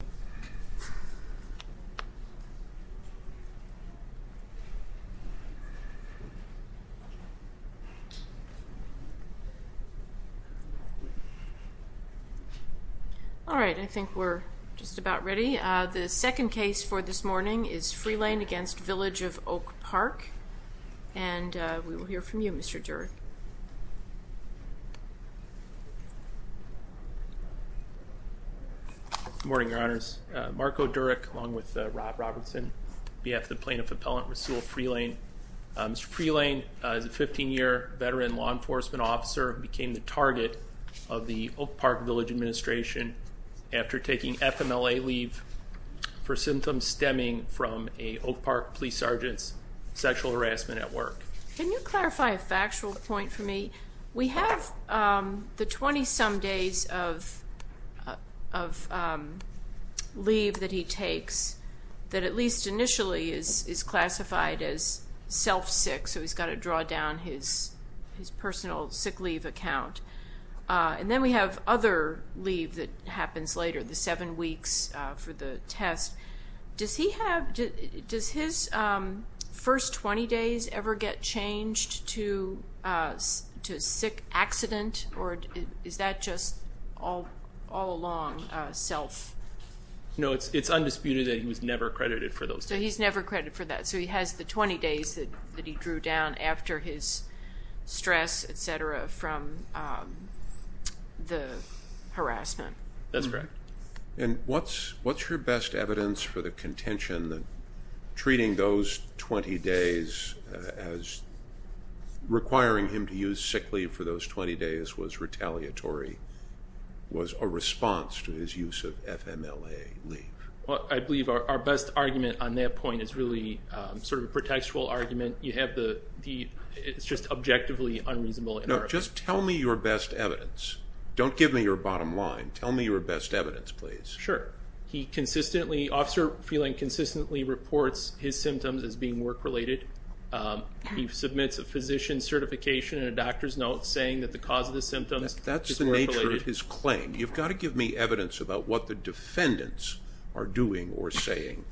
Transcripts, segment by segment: The second case for this morning is Freelain v. Village of Oak Park and we will hear from you, Mr. Durd. Mr. Freelain is a 15-year veteran law enforcement officer who became the target of the Oak Park Village administration after taking FMLA leave for symptoms stemming from a Oak Park police sergeant's sexual harassment at work. Can you clarify a factual point for me? We have the 20-some days of leave that he takes that at least initially is classified as self-sick, so he's got to draw down his personal sick leave account. And then we have other leave that happens later, the seven weeks for the test. Does his first 20 days ever get changed to sick accident or is that just all along self? No, it's undisputed that he was never credited for those days. So he's never credited for that. So he has the 20 days that he drew down after his stress, etc., from the harassment. And what's your best evidence for the contention that treating those 20 days as requiring him to use sick leave for those 20 days was retaliatory, was a response to his use of FMLA leave? Well, I believe our best argument on that point is really sort of a pretextual argument. It's just objectively unreasonable. No, just tell me your best evidence. Don't give me your bottom line. Tell me your best evidence, please. Sure. Officer Freelain consistently reports his symptoms as being work-related. He submits a physician certification and a doctor's note saying that the cause of the symptoms is work-related. You've got to give me evidence about what the defendants are doing or saying.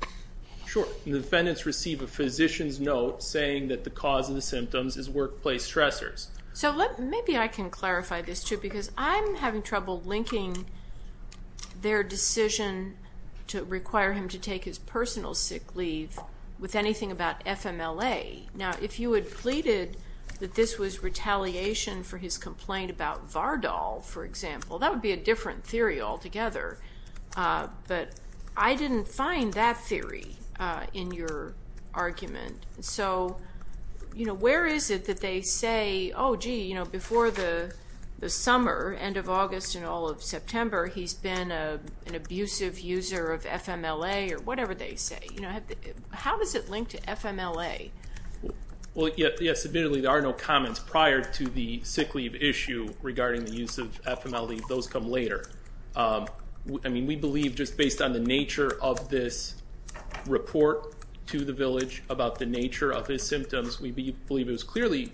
Sure. The defendants receive a physician's note saying that the cause of the symptoms is workplace stressors. So maybe I can clarify this too because I'm having trouble linking their decision to require him to take his personal sick leave with anything about FMLA. Now, if you had pleaded that this was retaliation for his complaint about Vardol, for example, that would be a different theory altogether. But I didn't find that theory in your argument. So, you know, where is it that they say, oh, gee, you know, before the summer, end of August and all of September, he's been an abusive user of FMLA or whatever they say. You know, how does it link to FMLA? Well, yes, admittedly, there are no comments prior to the sick leave issue regarding the use of FMLA. Those come later. I mean, we believe just based on the nature of this report to the village about the nature of his symptoms, we believe it was clearly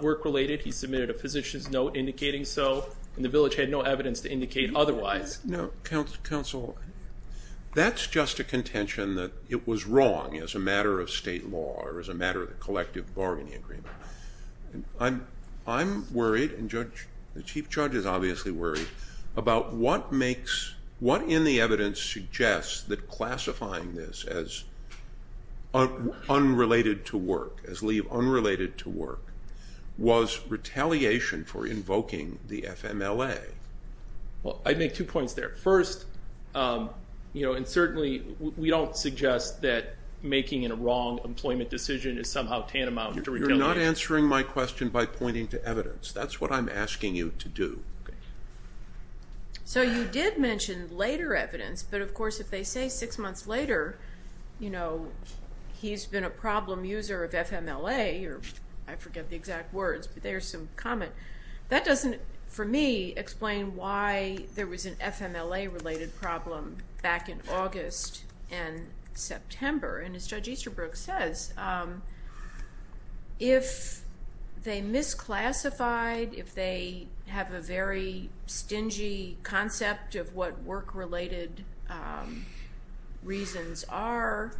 work-related. He submitted a physician's note indicating so, and the village had no evidence to indicate otherwise. Now, counsel, that's just a contention that it was wrong as a matter of state law or as a matter of collective bargaining agreement. I'm worried, and the chief judge is obviously worried, about what makes, what in the evidence suggests that classifying this as unrelated to work, as leave unrelated to work, was retaliation for invoking the FMLA. Well, I'd make two points there. First, you know, and certainly we don't suggest that making a wrong employment decision is somehow tantamount to retaliation. You're not answering my question by pointing to evidence. That's what I'm asking you to do. So, you did mention later evidence, but of course, if they say six months later, you know, he's been a problem user of FMLA, or I forget the exact words, but there's some comment. That doesn't, for me, explain why there was an FMLA-related problem back in August and September. And as Judge Easterbrook says, if they misclassified, if they have a very stingy concept of what work-related reasons are,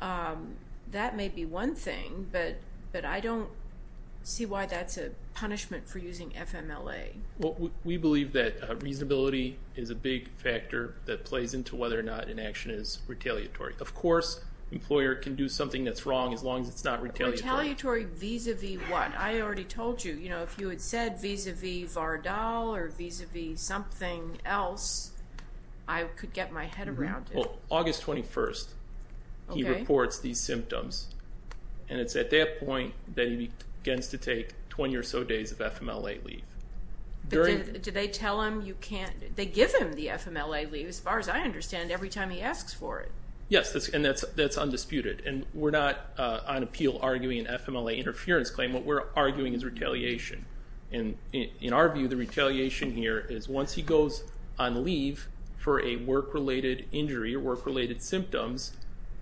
that may be one thing, but I don't see why that's a punishment for using FMLA. Well, we believe that reasonability is a big factor that plays into whether or not an action is retaliatory. Of course, an employer can do something that's wrong as long as it's not retaliatory. Retaliatory vis-a-vis what? I already told you. You know, if you had said vis-a-vis Vardal or vis-a-vis something else, I could get my head around it. Well, August 21st, he reports these symptoms, and it's at that point that he begins to take 20 or so days of FMLA leave. Do they tell him you can't? They give him the FMLA leave, as far as I understand, every time he asks for it. Yes, and that's undisputed. And we're not on appeal arguing an FMLA interference claim. What we're arguing is retaliation. And in our view, the retaliation here is once he goes on leave for a work-related injury or work-related symptoms,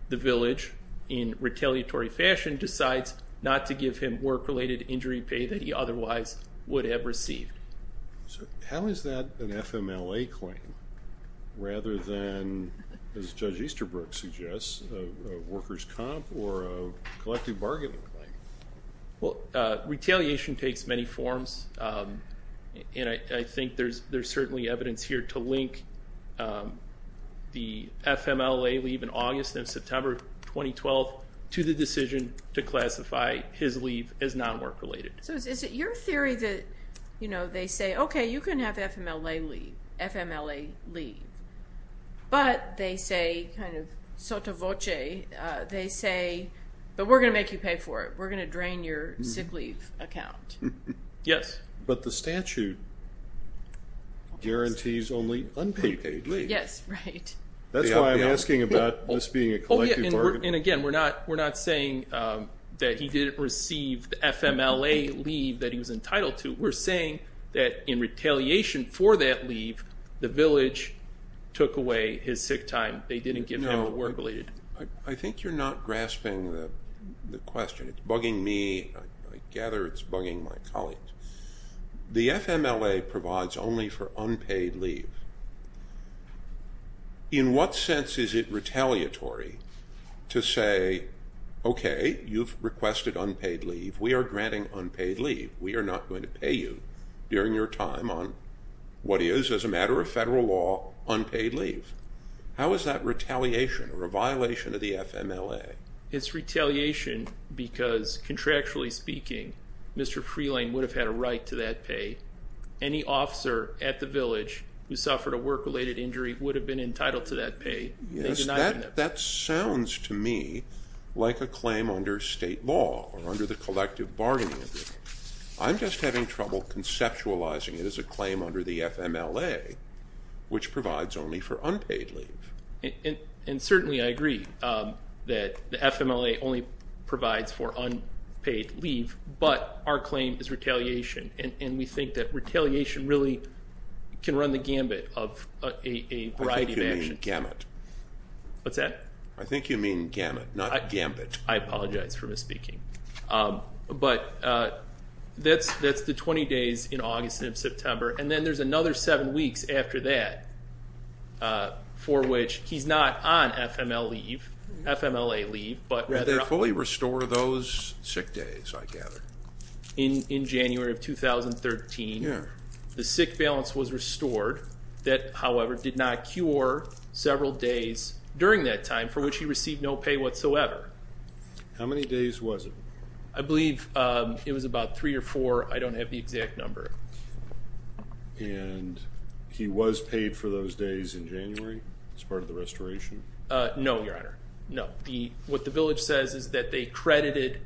the village, in retaliatory fashion, decides not to give him work-related injury pay that he otherwise would have received. So how is that an FMLA claim rather than, as Judge Easterbrook suggests, a workers' comp or a collective bargaining claim? Well, retaliation takes many forms, and I think there's certainly evidence here to link the FMLA leave in August and September 2012 to the decision to classify his leave as non-work-related. So is it your theory that they say, okay, you can have FMLA leave, but they say, kind of sotto voce, they say, but we're going to make you pay for it. We're going to drain your sick leave account. Yes. But the statute guarantees only unpaid leave. Yes, right. That's why I'm asking about this being a collective bargaining. And again, we're not saying that he didn't receive the FMLA leave that he was entitled to. We're saying that in retaliation for that leave, the village took away his sick time. They didn't give him the work-related. I think you're not grasping the question. It's bugging me. I gather it's bugging my colleagues. The FMLA provides only for unpaid leave. In what sense is it retaliatory to say, okay, you've requested unpaid leave. We are granting unpaid leave. We are not going to pay you during your time on what is, as a matter of federal law, unpaid leave. How is that retaliation or a violation of the FMLA? It's retaliation because, contractually speaking, Mr. Freeland would have had a right to that pay. Any officer at the village who suffered a work-related injury would have been entitled to that pay. Yes, that sounds to me like a claim under state law or under the collective bargaining agreement. I'm just having trouble conceptualizing it as a claim under the FMLA, which provides only for unpaid leave. And certainly I agree that the FMLA only provides for unpaid leave, but our claim is retaliation. And we think that retaliation really can run the gambit of a variety of actions. I think you mean gamut. What's that? I think you mean gamut, not gambit. I apologize for misspeaking. But that's the 20 days in August and September. And then there's another seven weeks after that for which he's not on FMLA leave. Did they fully restore those sick days, I gather? In January of 2013, the sick balance was restored. That, however, did not cure several days during that time for which he received no pay whatsoever. How many days was it? I believe it was about three or four. I don't have the exact number. And he was paid for those days in January as part of the restoration? No, Your Honor, no. What the village says is that they credited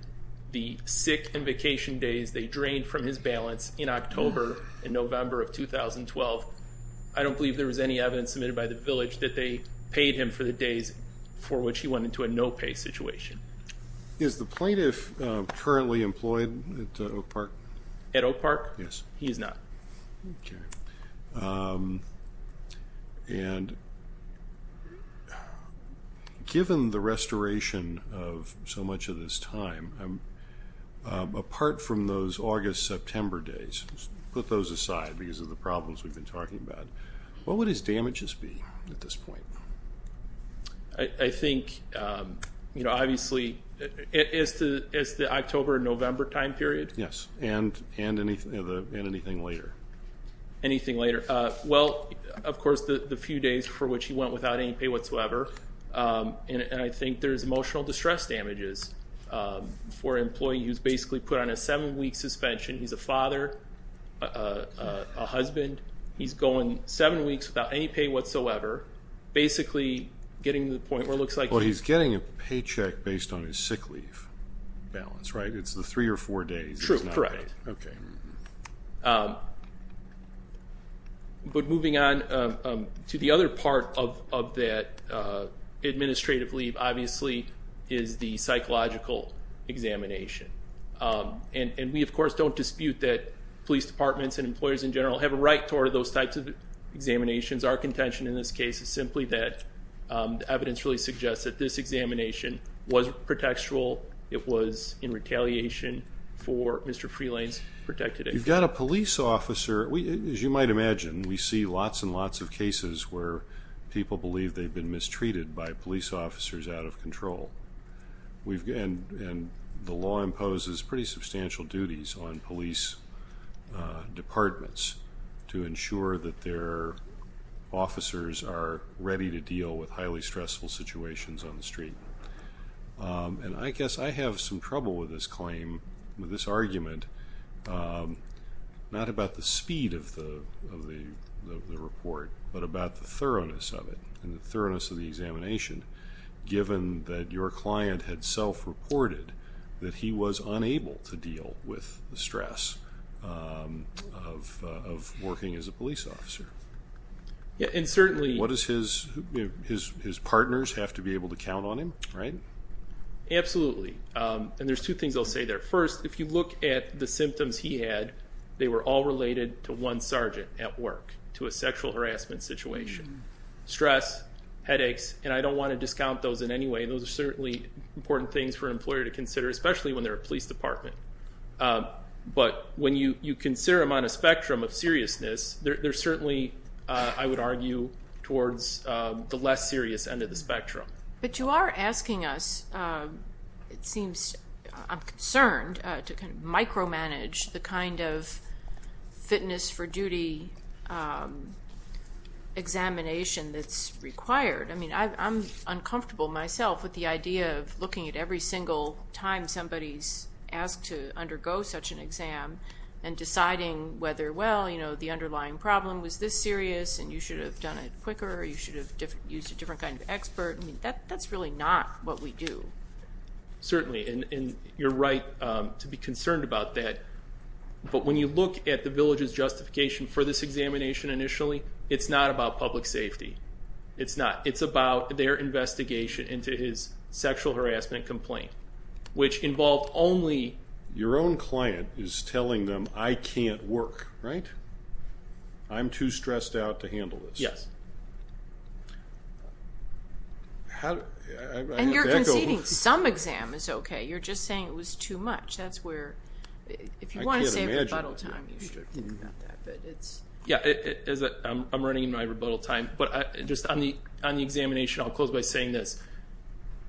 the sick and vacation days they drained from his balance in October and November of 2012. I don't believe there was any evidence submitted by the village that they paid him for the days for which he went into a no pay situation. Is the plaintiff currently employed at Oak Park? At Oak Park? Yes. He is not. Okay. And given the restoration of so much of this time, apart from those August-September days, put those aside because of the problems we've been talking about, what would his damages be at this point? I think, you know, obviously it's the October-November time period. Yes, and anything later. Anything later. Well, of course, the few days for which he went without any pay whatsoever, and I think there's emotional distress damages for an employee who's basically put on a seven-week suspension. He's a father, a husband. He's going seven weeks without any pay whatsoever, basically getting to the point where it looks like he's. Well, he's getting a paycheck based on his sick leave balance, right? It's the three or four days. True, correct. Okay. But moving on to the other part of that administrative leave, obviously, is the psychological examination. And we, of course, don't dispute that police departments and employers in general have a right toward those types of examinations. Our contention in this case is simply that the evidence really suggests that this examination was pretextual. It was in retaliation for Mr. Freelane's protective action. You've got a police officer. As you might imagine, we see lots and lots of cases where people believe they've been mistreated by police officers out of control. And the law imposes pretty substantial duties on police departments to ensure that their officers are ready to deal with highly stressful situations on the street. And I guess I have some trouble with this claim, with this argument, not about the speed of the report, but about the thoroughness of it and the thoroughness of the examination, given that your client had self-reported that he was unable to deal with the stress of working as a police officer. What does his partners have to be able to count on him, right? Absolutely. And there's two things I'll say there. First, if you look at the symptoms he had, they were all related to one sergeant at work, to a sexual harassment situation. Stress, headaches, and I don't want to discount those in any way. Those are certainly important things for an employer to consider, especially when they're a police department. But when you consider them on a spectrum of seriousness, they're certainly, I would argue, towards the less serious end of the spectrum. But you are asking us, it seems I'm concerned, to micromanage the kind of fitness for duty examination that's required. I mean, I'm uncomfortable myself with the idea of looking at every single time somebody's asked to undergo such an exam and deciding whether, well, you know, the underlying problem was this serious and you should have done it quicker or you should have used a different kind of expert. I mean, that's really not what we do. Certainly, and you're right to be concerned about that. But when you look at the village's justification for this examination initially, it's not about public safety. It's not. It's about their investigation into his sexual harassment complaint, which involved only... Your own client is telling them, I can't work, right? I'm too stressed out to handle this. Yes. And you're conceding some exam is okay. You're just saying it was too much. That's where, if you want to save rebuttal time, you should think about that. Yeah, I'm running in my rebuttal time. But just on the examination, I'll close by saying this.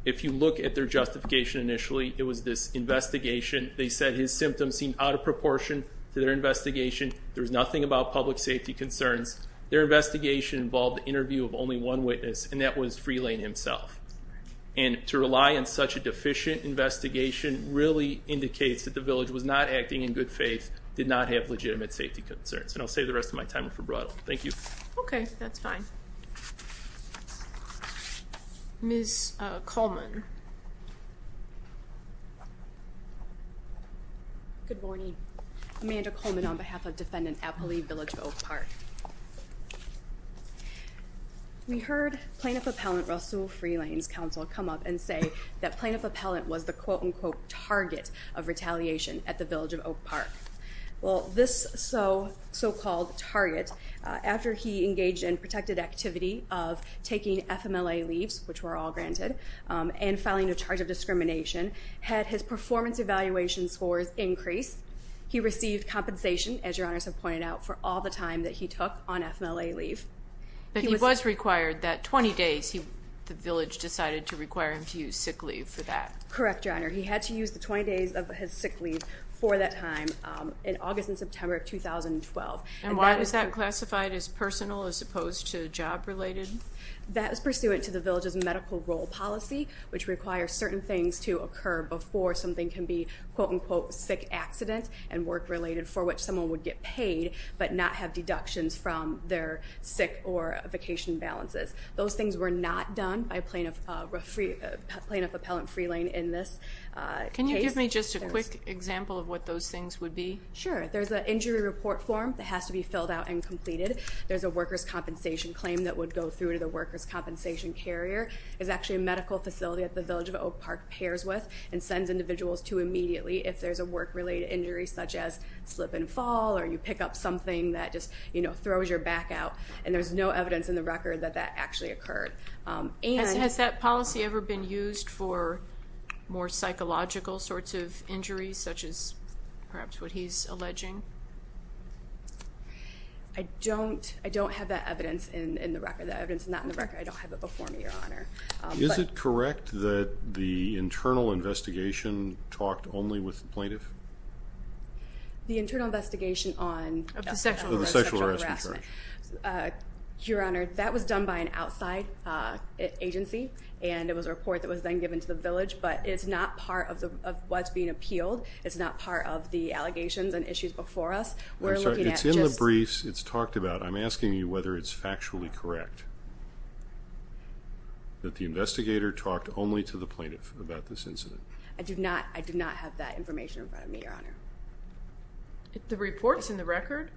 If you look at their justification initially, it was this investigation. They said his symptoms seemed out of proportion to their investigation. There was nothing about public safety concerns. Their investigation involved an interview of only one witness, and that was Freelane himself. And to rely on such a deficient investigation really indicates that the village was not acting in good faith, did not have legitimate safety concerns. And I'll save the rest of my time for rebuttal. Thank you. Okay. That's fine. Ms. Coleman. Good morning. Amanda Coleman on behalf of Defendant Appley, Village of Oak Park. We heard Plaintiff Appellant Rasul Freelane's counsel come up and say that Plaintiff Appellant was the quote-unquote target of retaliation at the Village of Oak Park. Well, this so-called target, after he engaged in protected activity of taking FMLA leaves, which were all granted, and filing a charge of discrimination, had his performance evaluation scores increased. He received compensation, as Your Honors have pointed out, for all the time that he took on FMLA leave. But he was required that 20 days the village decided to require him to use sick leave for that. Correct, Your Honor. He had to use the 20 days of his sick leave for that time in August and September of 2012. And why was that classified as personal as opposed to job-related? That was pursuant to the village's medical role policy, which requires certain things to occur before something can be quote-unquote sick accident and work-related for which someone would get paid but not have deductions from their sick or vacation balances. Those things were not done by Plaintiff Appellant Freelane in this case. Can you give me just a quick example of what those things would be? Sure. There's an injury report form that has to be filled out and completed. There's a workers' compensation claim that would go through to the workers' compensation carrier. There's actually a medical facility that the Village of Oak Park pairs with and sends individuals to immediately if there's a work-related injury such as slip and fall or you pick up something that just throws your back out. And there's no evidence in the record that that actually occurred. Has that policy ever been used for more psychological sorts of injuries such as perhaps what he's alleging? I don't have that evidence in the record. That evidence is not in the record. I don't have it before me, Your Honor. Is it correct that the internal investigation talked only with the plaintiff? The internal investigation on the sexual harassment. Your Honor, that was done by an outside agency, and it was a report that was then given to the Village. But it's not part of what's being appealed. It's not part of the allegations and issues before us. It's in the briefs. It's talked about. I'm asking you whether it's factually correct that the investigator talked only to the plaintiff about this incident. I do not have that information in front of me, Your Honor. The report's in the record?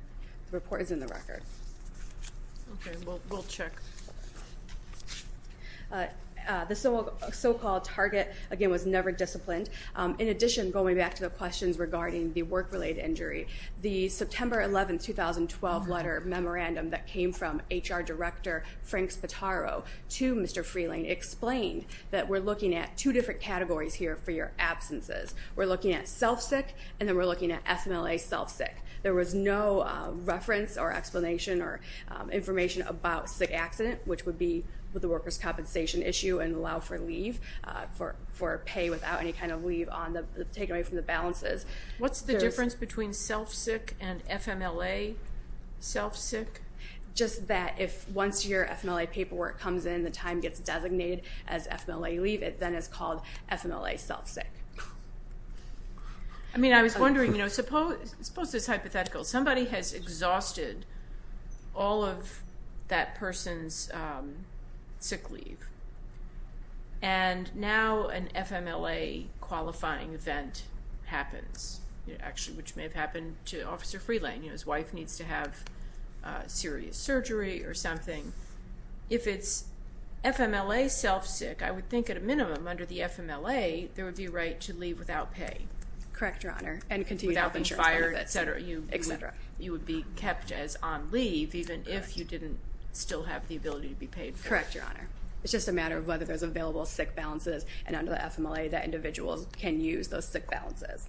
The report is in the record. Okay, we'll check. The so-called target, again, was never disciplined. In addition, going back to the questions regarding the work-related injury, the September 11, 2012 letter memorandum that came from HR Director Frank Spataro to Mr. Freeling explained that we're looking at two different categories here for your absences. We're looking at self-sick and then we're looking at FMLA self-sick. There was no reference or explanation or information about sick accident, which would be with the workers' compensation issue and allow for leave, for pay without any kind of leave taken away from the balances. What's the difference between self-sick and FMLA self-sick? Just that if once your FMLA paperwork comes in, the time gets designated as FMLA leave, it then is called FMLA self-sick. I mean, I was wondering, you know, suppose this is hypothetical. Somebody has exhausted all of that person's sick leave, and now an FMLA qualifying event happens, actually, which may have happened to Officer Freeling. You know, his wife needs to have serious surgery or something. If it's FMLA self-sick, I would think at a minimum under the FMLA, there would be a right to leave without pay. Correct, Your Honor. And continue without insurance, et cetera. You would be kept as on leave even if you didn't still have the ability to be paid for it. Correct, Your Honor. It's just a matter of whether there's available sick balances, and under the FMLA that individual can use those sick balances.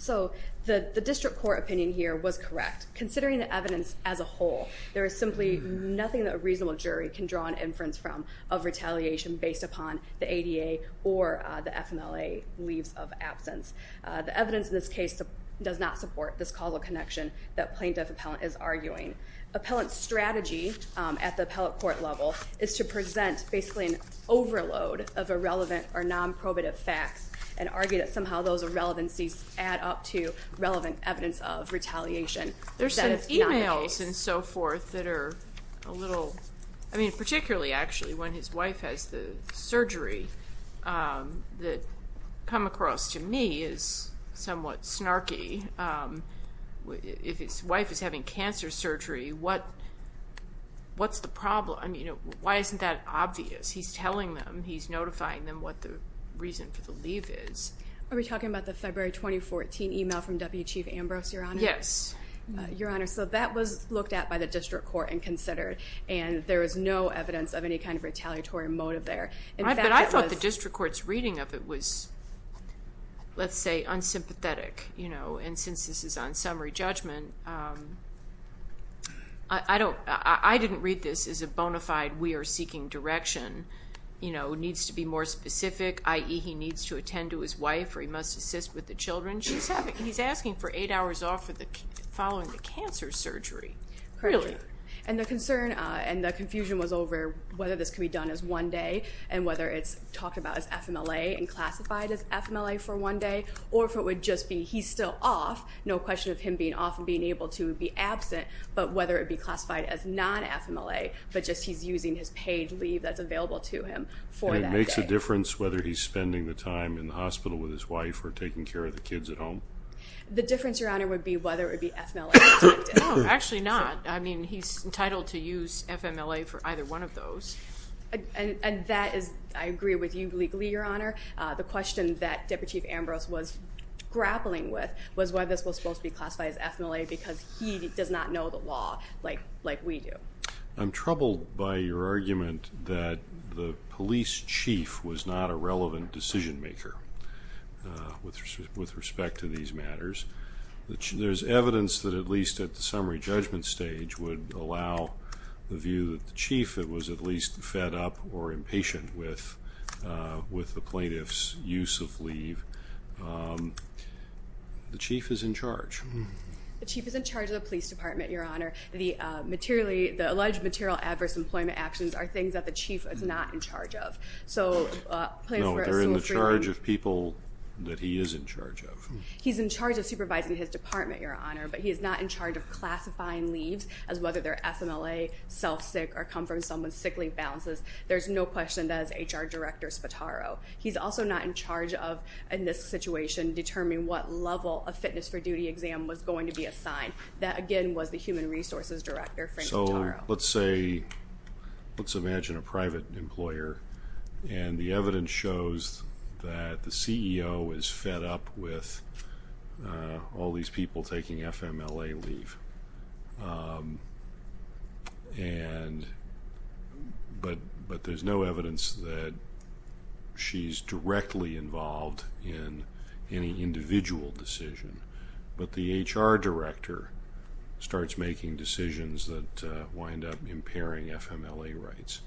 So the district court opinion here was correct. Considering the evidence as a whole, there is simply nothing that a reasonable jury can draw an inference from of retaliation based upon the ADA or the FMLA leaves of absence. The evidence in this case does not support this causal connection that plaintiff appellant is arguing. Appellant's strategy at the appellate court level is to present basically an overload of irrelevant or non-probative facts and argue that somehow those irrelevancies add up to relevant evidence of retaliation. There's some e-mails and so forth that are a little, I mean, particularly actually when his wife has the surgery that come across to me as somewhat snarky. If his wife is having cancer surgery, what's the problem? I mean, why isn't that obvious? He's telling them. He's notifying them what the reason for the leave is. Are we talking about the February 2014 e-mail from W. Chief Ambrose, Your Honor? Yes. Your Honor, so that was looked at by the district court and considered, and there is no evidence of any kind of retaliatory motive there. But I thought the district court's reading of it was, let's say, unsympathetic. And since this is on summary judgment, I didn't read this as a bona fide we are seeking direction, you know, needs to be more specific, i.e., he needs to attend to his wife or he must assist with the children. He's asking for eight hours off following the cancer surgery. Really? And the concern and the confusion was over whether this could be done as one day and whether it's talked about as FMLA and classified as FMLA for one day or if it would just be he's still off, no question of him being off and being able to be absent, but whether it would be classified as non-FMLA, but just he's using his paid leave that's available to him for that day. And it makes a difference whether he's spending the time in the hospital with his wife or taking care of the kids at home? The difference, Your Honor, would be whether it would be FMLA. No, actually not. I mean, he's entitled to use FMLA for either one of those. And that is, I agree with you legally, Your Honor. The question that Deputy Chief Ambrose was grappling with was why this was supposed to be classified as FMLA because he does not know the law like we do. I'm troubled by your argument that the police chief was not a relevant decision maker with respect to these matters. There's evidence that at least at the summary judgment stage which would allow the view that the chief was at least fed up or impatient with the plaintiff's use of leave. The chief is in charge. The chief is in charge of the police department, Your Honor. The alleged material adverse employment actions are things that the chief is not in charge of. No, they're in the charge of people that he is in charge of. He's in charge of supervising his department, Your Honor, but he is not in charge of classifying leaves as whether they're FMLA, self-sick, or come from someone with sick leave balances. There's no question that is HR Director Spataro. He's also not in charge of, in this situation, determining what level a fitness for duty exam was going to be assigned. That, again, was the human resources director, Frank Spataro. So let's say, let's imagine a private employer, and the evidence shows that the CEO is fed up with all these people taking FMLA leave, but there's no evidence that she's directly involved in any individual decision. But the HR director starts making decisions that wind up impairing FMLA rights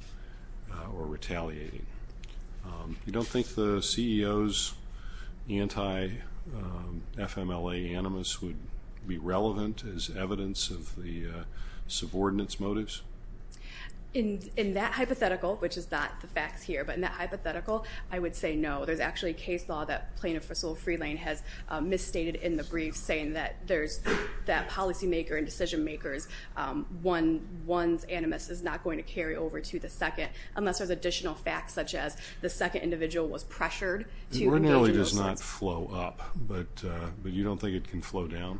or retaliating. You don't think the CEO's anti-FMLA animus would be relevant as evidence of the subordinates' motives? In that hypothetical, which is not the facts here, but in that hypothetical, I would say no. There's actually a case law that Plaintiff Fiscal Freelane has misstated in the brief, saying that there's that policymaker and decision makers, one's animus is not going to carry over to the second, unless there's additional facts, such as the second individual was pressured to. It ordinarily does not flow up, but you don't think it can flow down?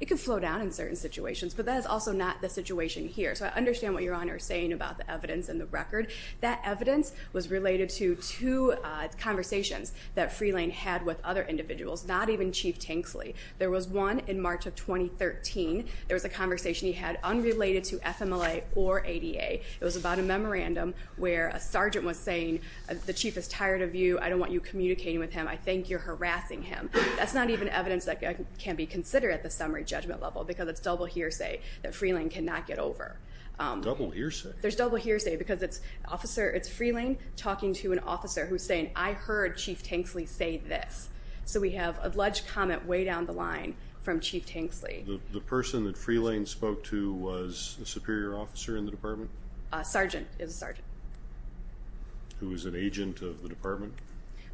It can flow down in certain situations, but that is also not the situation here. So I understand what Your Honor is saying about the evidence and the record. That evidence was related to two conversations that Freelane had with other individuals, not even Chief Tanksley. There was one in March of 2013. There was a conversation he had unrelated to FMLA or ADA. It was about a memorandum where a sergeant was saying, the chief is tired of you, I don't want you communicating with him, I think you're harassing him. That's not even evidence that can be considered at the summary judgment level because it's double hearsay that Freelane cannot get over. Double hearsay? There's double hearsay because it's Freelane talking to an officer who's saying, I heard Chief Tanksley say this. So we have alleged comment way down the line from Chief Tanksley. The person that Freelane spoke to was a superior officer in the department? A sergeant is a sergeant. Who is an agent of the department?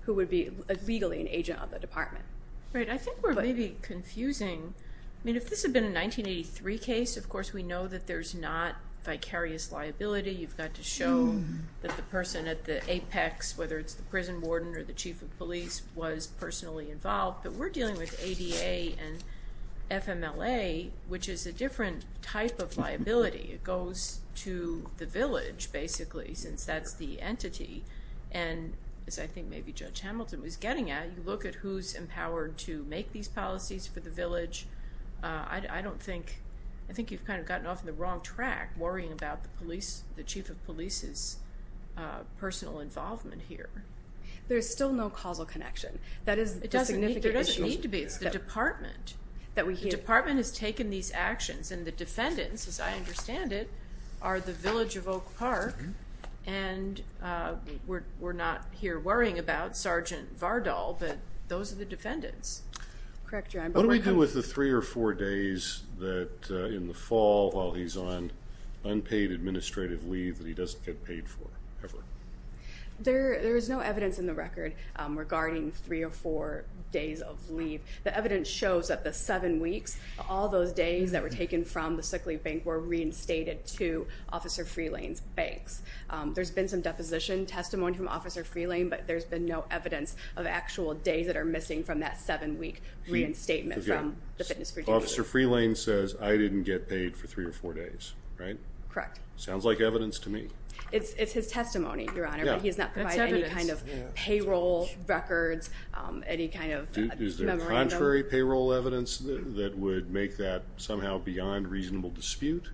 Who would be legally an agent of the department. I think we're maybe confusing. I mean, if this had been a 1983 case, of course, we know that there's not vicarious liability. You've got to show that the person at the apex, whether it's the prison warden or the chief of police, was personally involved. But we're dealing with ADA and FMLA, which is a different type of liability. It goes to the village, basically, since that's the entity. And as I think maybe Judge Hamilton was getting at, you look at who's empowered to make these policies for the village. I think you've kind of gotten off on the wrong track, worrying about the chief of police's personal involvement here. There's still no causal connection. It doesn't need to be. It's the department. The department has taken these actions, and the defendants, as I understand it, are the village of Oak Park, and we're not here worrying about Sergeant Vardal, but those are the defendants. Correct, John. What do we do with the three or four days that, in the fall, while he's on unpaid administrative leave that he doesn't get paid for ever? There is no evidence in the record regarding three or four days of leave. The evidence shows that the seven weeks, all those days that were taken from the sick leave bank were reinstated to Officer Freelane's banks. There's been some deposition testimony from Officer Freelane, but there's been no evidence of actual days that are missing from that seven-week reinstatement from the fitness for duty. Officer Freelane says, I didn't get paid for three or four days, right? Correct. Sounds like evidence to me. It's his testimony, Your Honor, but he's not provided any kind of payroll records, any kind of memorandum. Is there contrary payroll evidence that would make that somehow beyond reasonable dispute?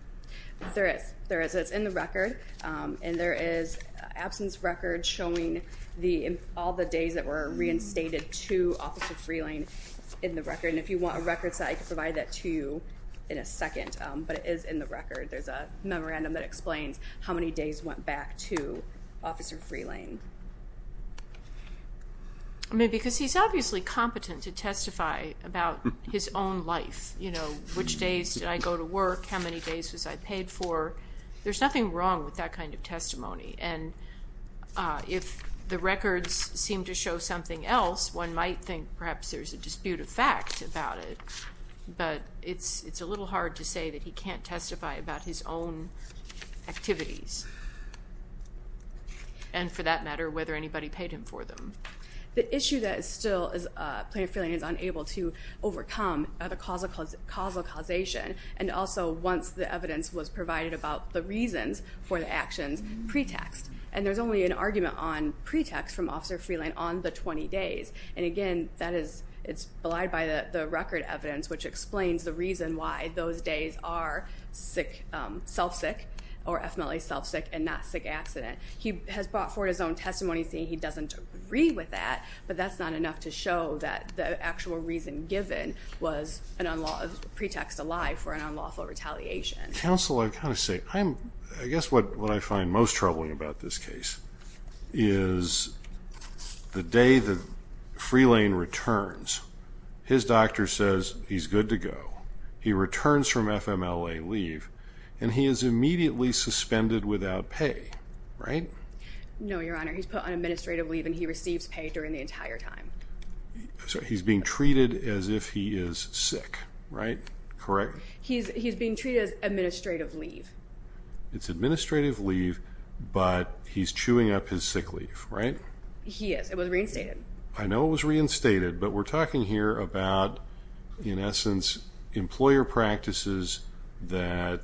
There is. There is. It's in the record, and there is an absence record showing all the days that were reinstated to Officer Freelane in the record. And if you want a record set, I can provide that to you in a second, but it is in the record. There's a memorandum that explains how many days went back to Officer Freelane. I mean, because he's obviously competent to testify about his own life, you know, which days did I go to work, how many days was I paid for. There's nothing wrong with that kind of testimony. And if the records seem to show something else, one might think perhaps there's a dispute of fact about it, but it's a little hard to say that he can't testify about his own activities and, for that matter, whether anybody paid him for them. The issue that is still, Plaintiff Freelane is unable to overcome, the causal causation, and also once the evidence was provided about the reasons for the actions pretext. And there's only an argument on pretext from Officer Freelane on the 20 days. And, again, it's belied by the record evidence, which explains the reason why those days are self-sick or FMLA self-sick and not sick accident. He has brought forward his own testimony saying he doesn't agree with that, but that's not enough to show that the actual reason given was a pretext to lie for an unlawful retaliation. Counsel, I've got to say, I guess what I find most troubling about this case is the day that Freelane returns, his doctor says he's good to go. He returns from FMLA leave, and he is immediately suspended without pay, right? No, Your Honor. He's put on administrative leave, and he receives pay during the entire time. So he's being treated as if he is sick, right? Correct? He's being treated as administrative leave. It's administrative leave, but he's chewing up his sick leave, right? He is. It was reinstated. I know it was reinstated, but we're talking here about, in essence, employer practices that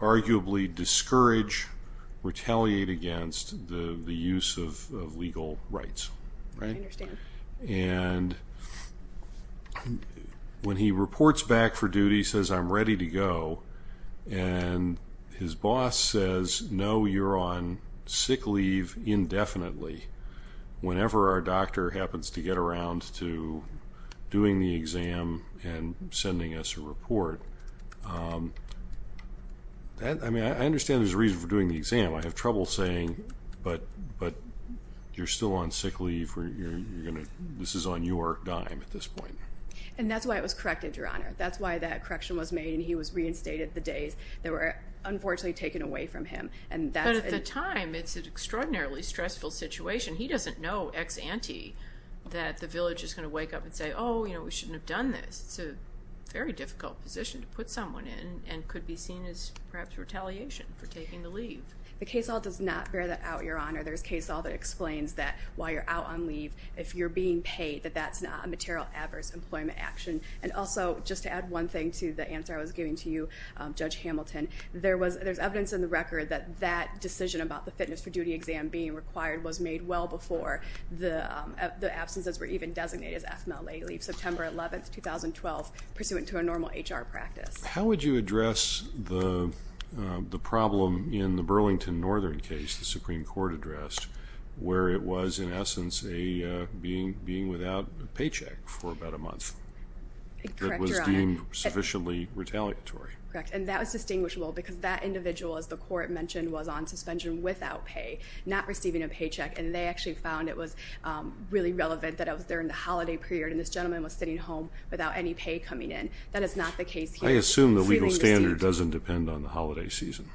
arguably discourage, retaliate against the use of legal rights, right? I understand. And when he reports back for duty, he says, I'm ready to go, and his boss says, no, you're on sick leave indefinitely. Whenever our doctor happens to get around to doing the exam and sending us a report, I understand there's a reason for doing the exam. I have trouble saying, but you're still on sick leave. This is on your dime at this point. And that's why it was corrected, Your Honor. That's why that correction was made, and he was reinstated the days that were unfortunately taken away from him. But at the time, it's an extraordinarily stressful situation. He doesn't know ex-ante that the village is going to wake up and say, oh, we shouldn't have done this. It's a very difficult position to put someone in and could be seen as perhaps retaliation for taking the leave. The case law does not bear that out, Your Honor. There's case law that explains that while you're out on leave, if you're being paid, that that's not a material adverse employment action. And also, just to add one thing to the answer I was giving to you, Judge Hamilton, there's evidence in the record that that decision about the fitness for duty exam being required was made well before the absences were even designated as FMLA leave, September 11, 2012, pursuant to a normal HR practice. How would you address the problem in the Burlington Northern case the Supreme Court addressed where it was in essence being without a paycheck for about a month that was deemed sufficiently retaliatory? Correct, and that was distinguishable because that individual, as the court mentioned, was on suspension without pay, not receiving a paycheck, and they actually found it was really relevant that it was during the holiday period and this gentleman was sitting home without any pay coming in. That is not the case here. I assume the legal standard doesn't depend on the holiday season.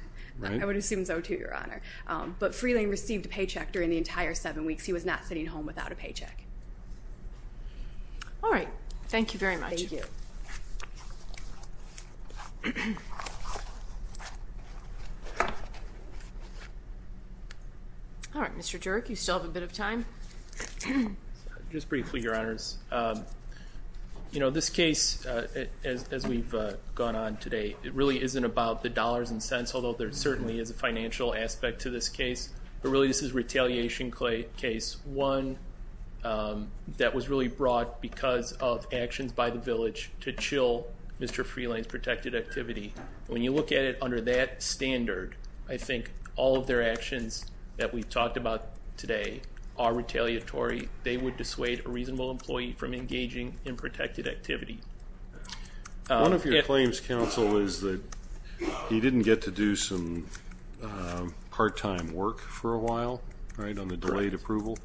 I would assume so, too, Your Honor. But Freeland received a paycheck during the entire seven weeks. All right. Thank you very much. Thank you. All right. Mr. Dierck, you still have a bit of time. Just briefly, Your Honors. You know, this case, as we've gone on today, it really isn't about the dollars and cents, although there certainly is a financial aspect to this case, but really this is a retaliation case, one that was really brought because of actions by the village to chill Mr. Freeland's protected activity. When you look at it under that standard, I think all of their actions that we've talked about today are retaliatory. They would dissuade a reasonable employee from engaging in protected activity. One of your claims, counsel, is that he didn't get to do some part-time work for a while, right, on the delayed approval.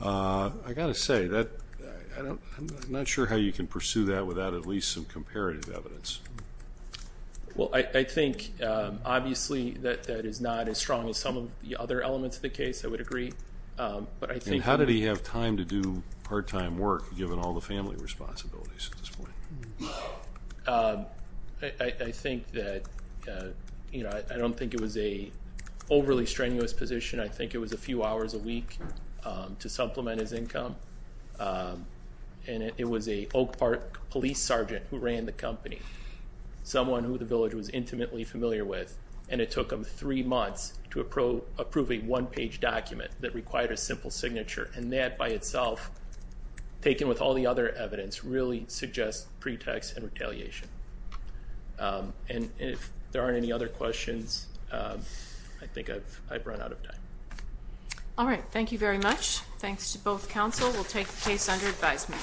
I've got to say, I'm not sure how you can pursue that without at least some comparative evidence. Well, I think, obviously, that that is not as strong as some of the other elements of the case, I would agree. And how did he have time to do part-time work, given all the family responsibilities at this point? I think that, you know, I don't think it was an overly strenuous position. I think it was a few hours a week to supplement his income. And it was an Oak Park police sergeant who ran the company, someone who the village was intimately familiar with, and it took him three months to approve a one-page document that required a simple signature. And that by itself, taken with all the other evidence, really suggests pretext and retaliation. And if there aren't any other questions, I think I've run out of time. All right. Thank you very much. Thanks to both counsel. We'll take the case under advisement.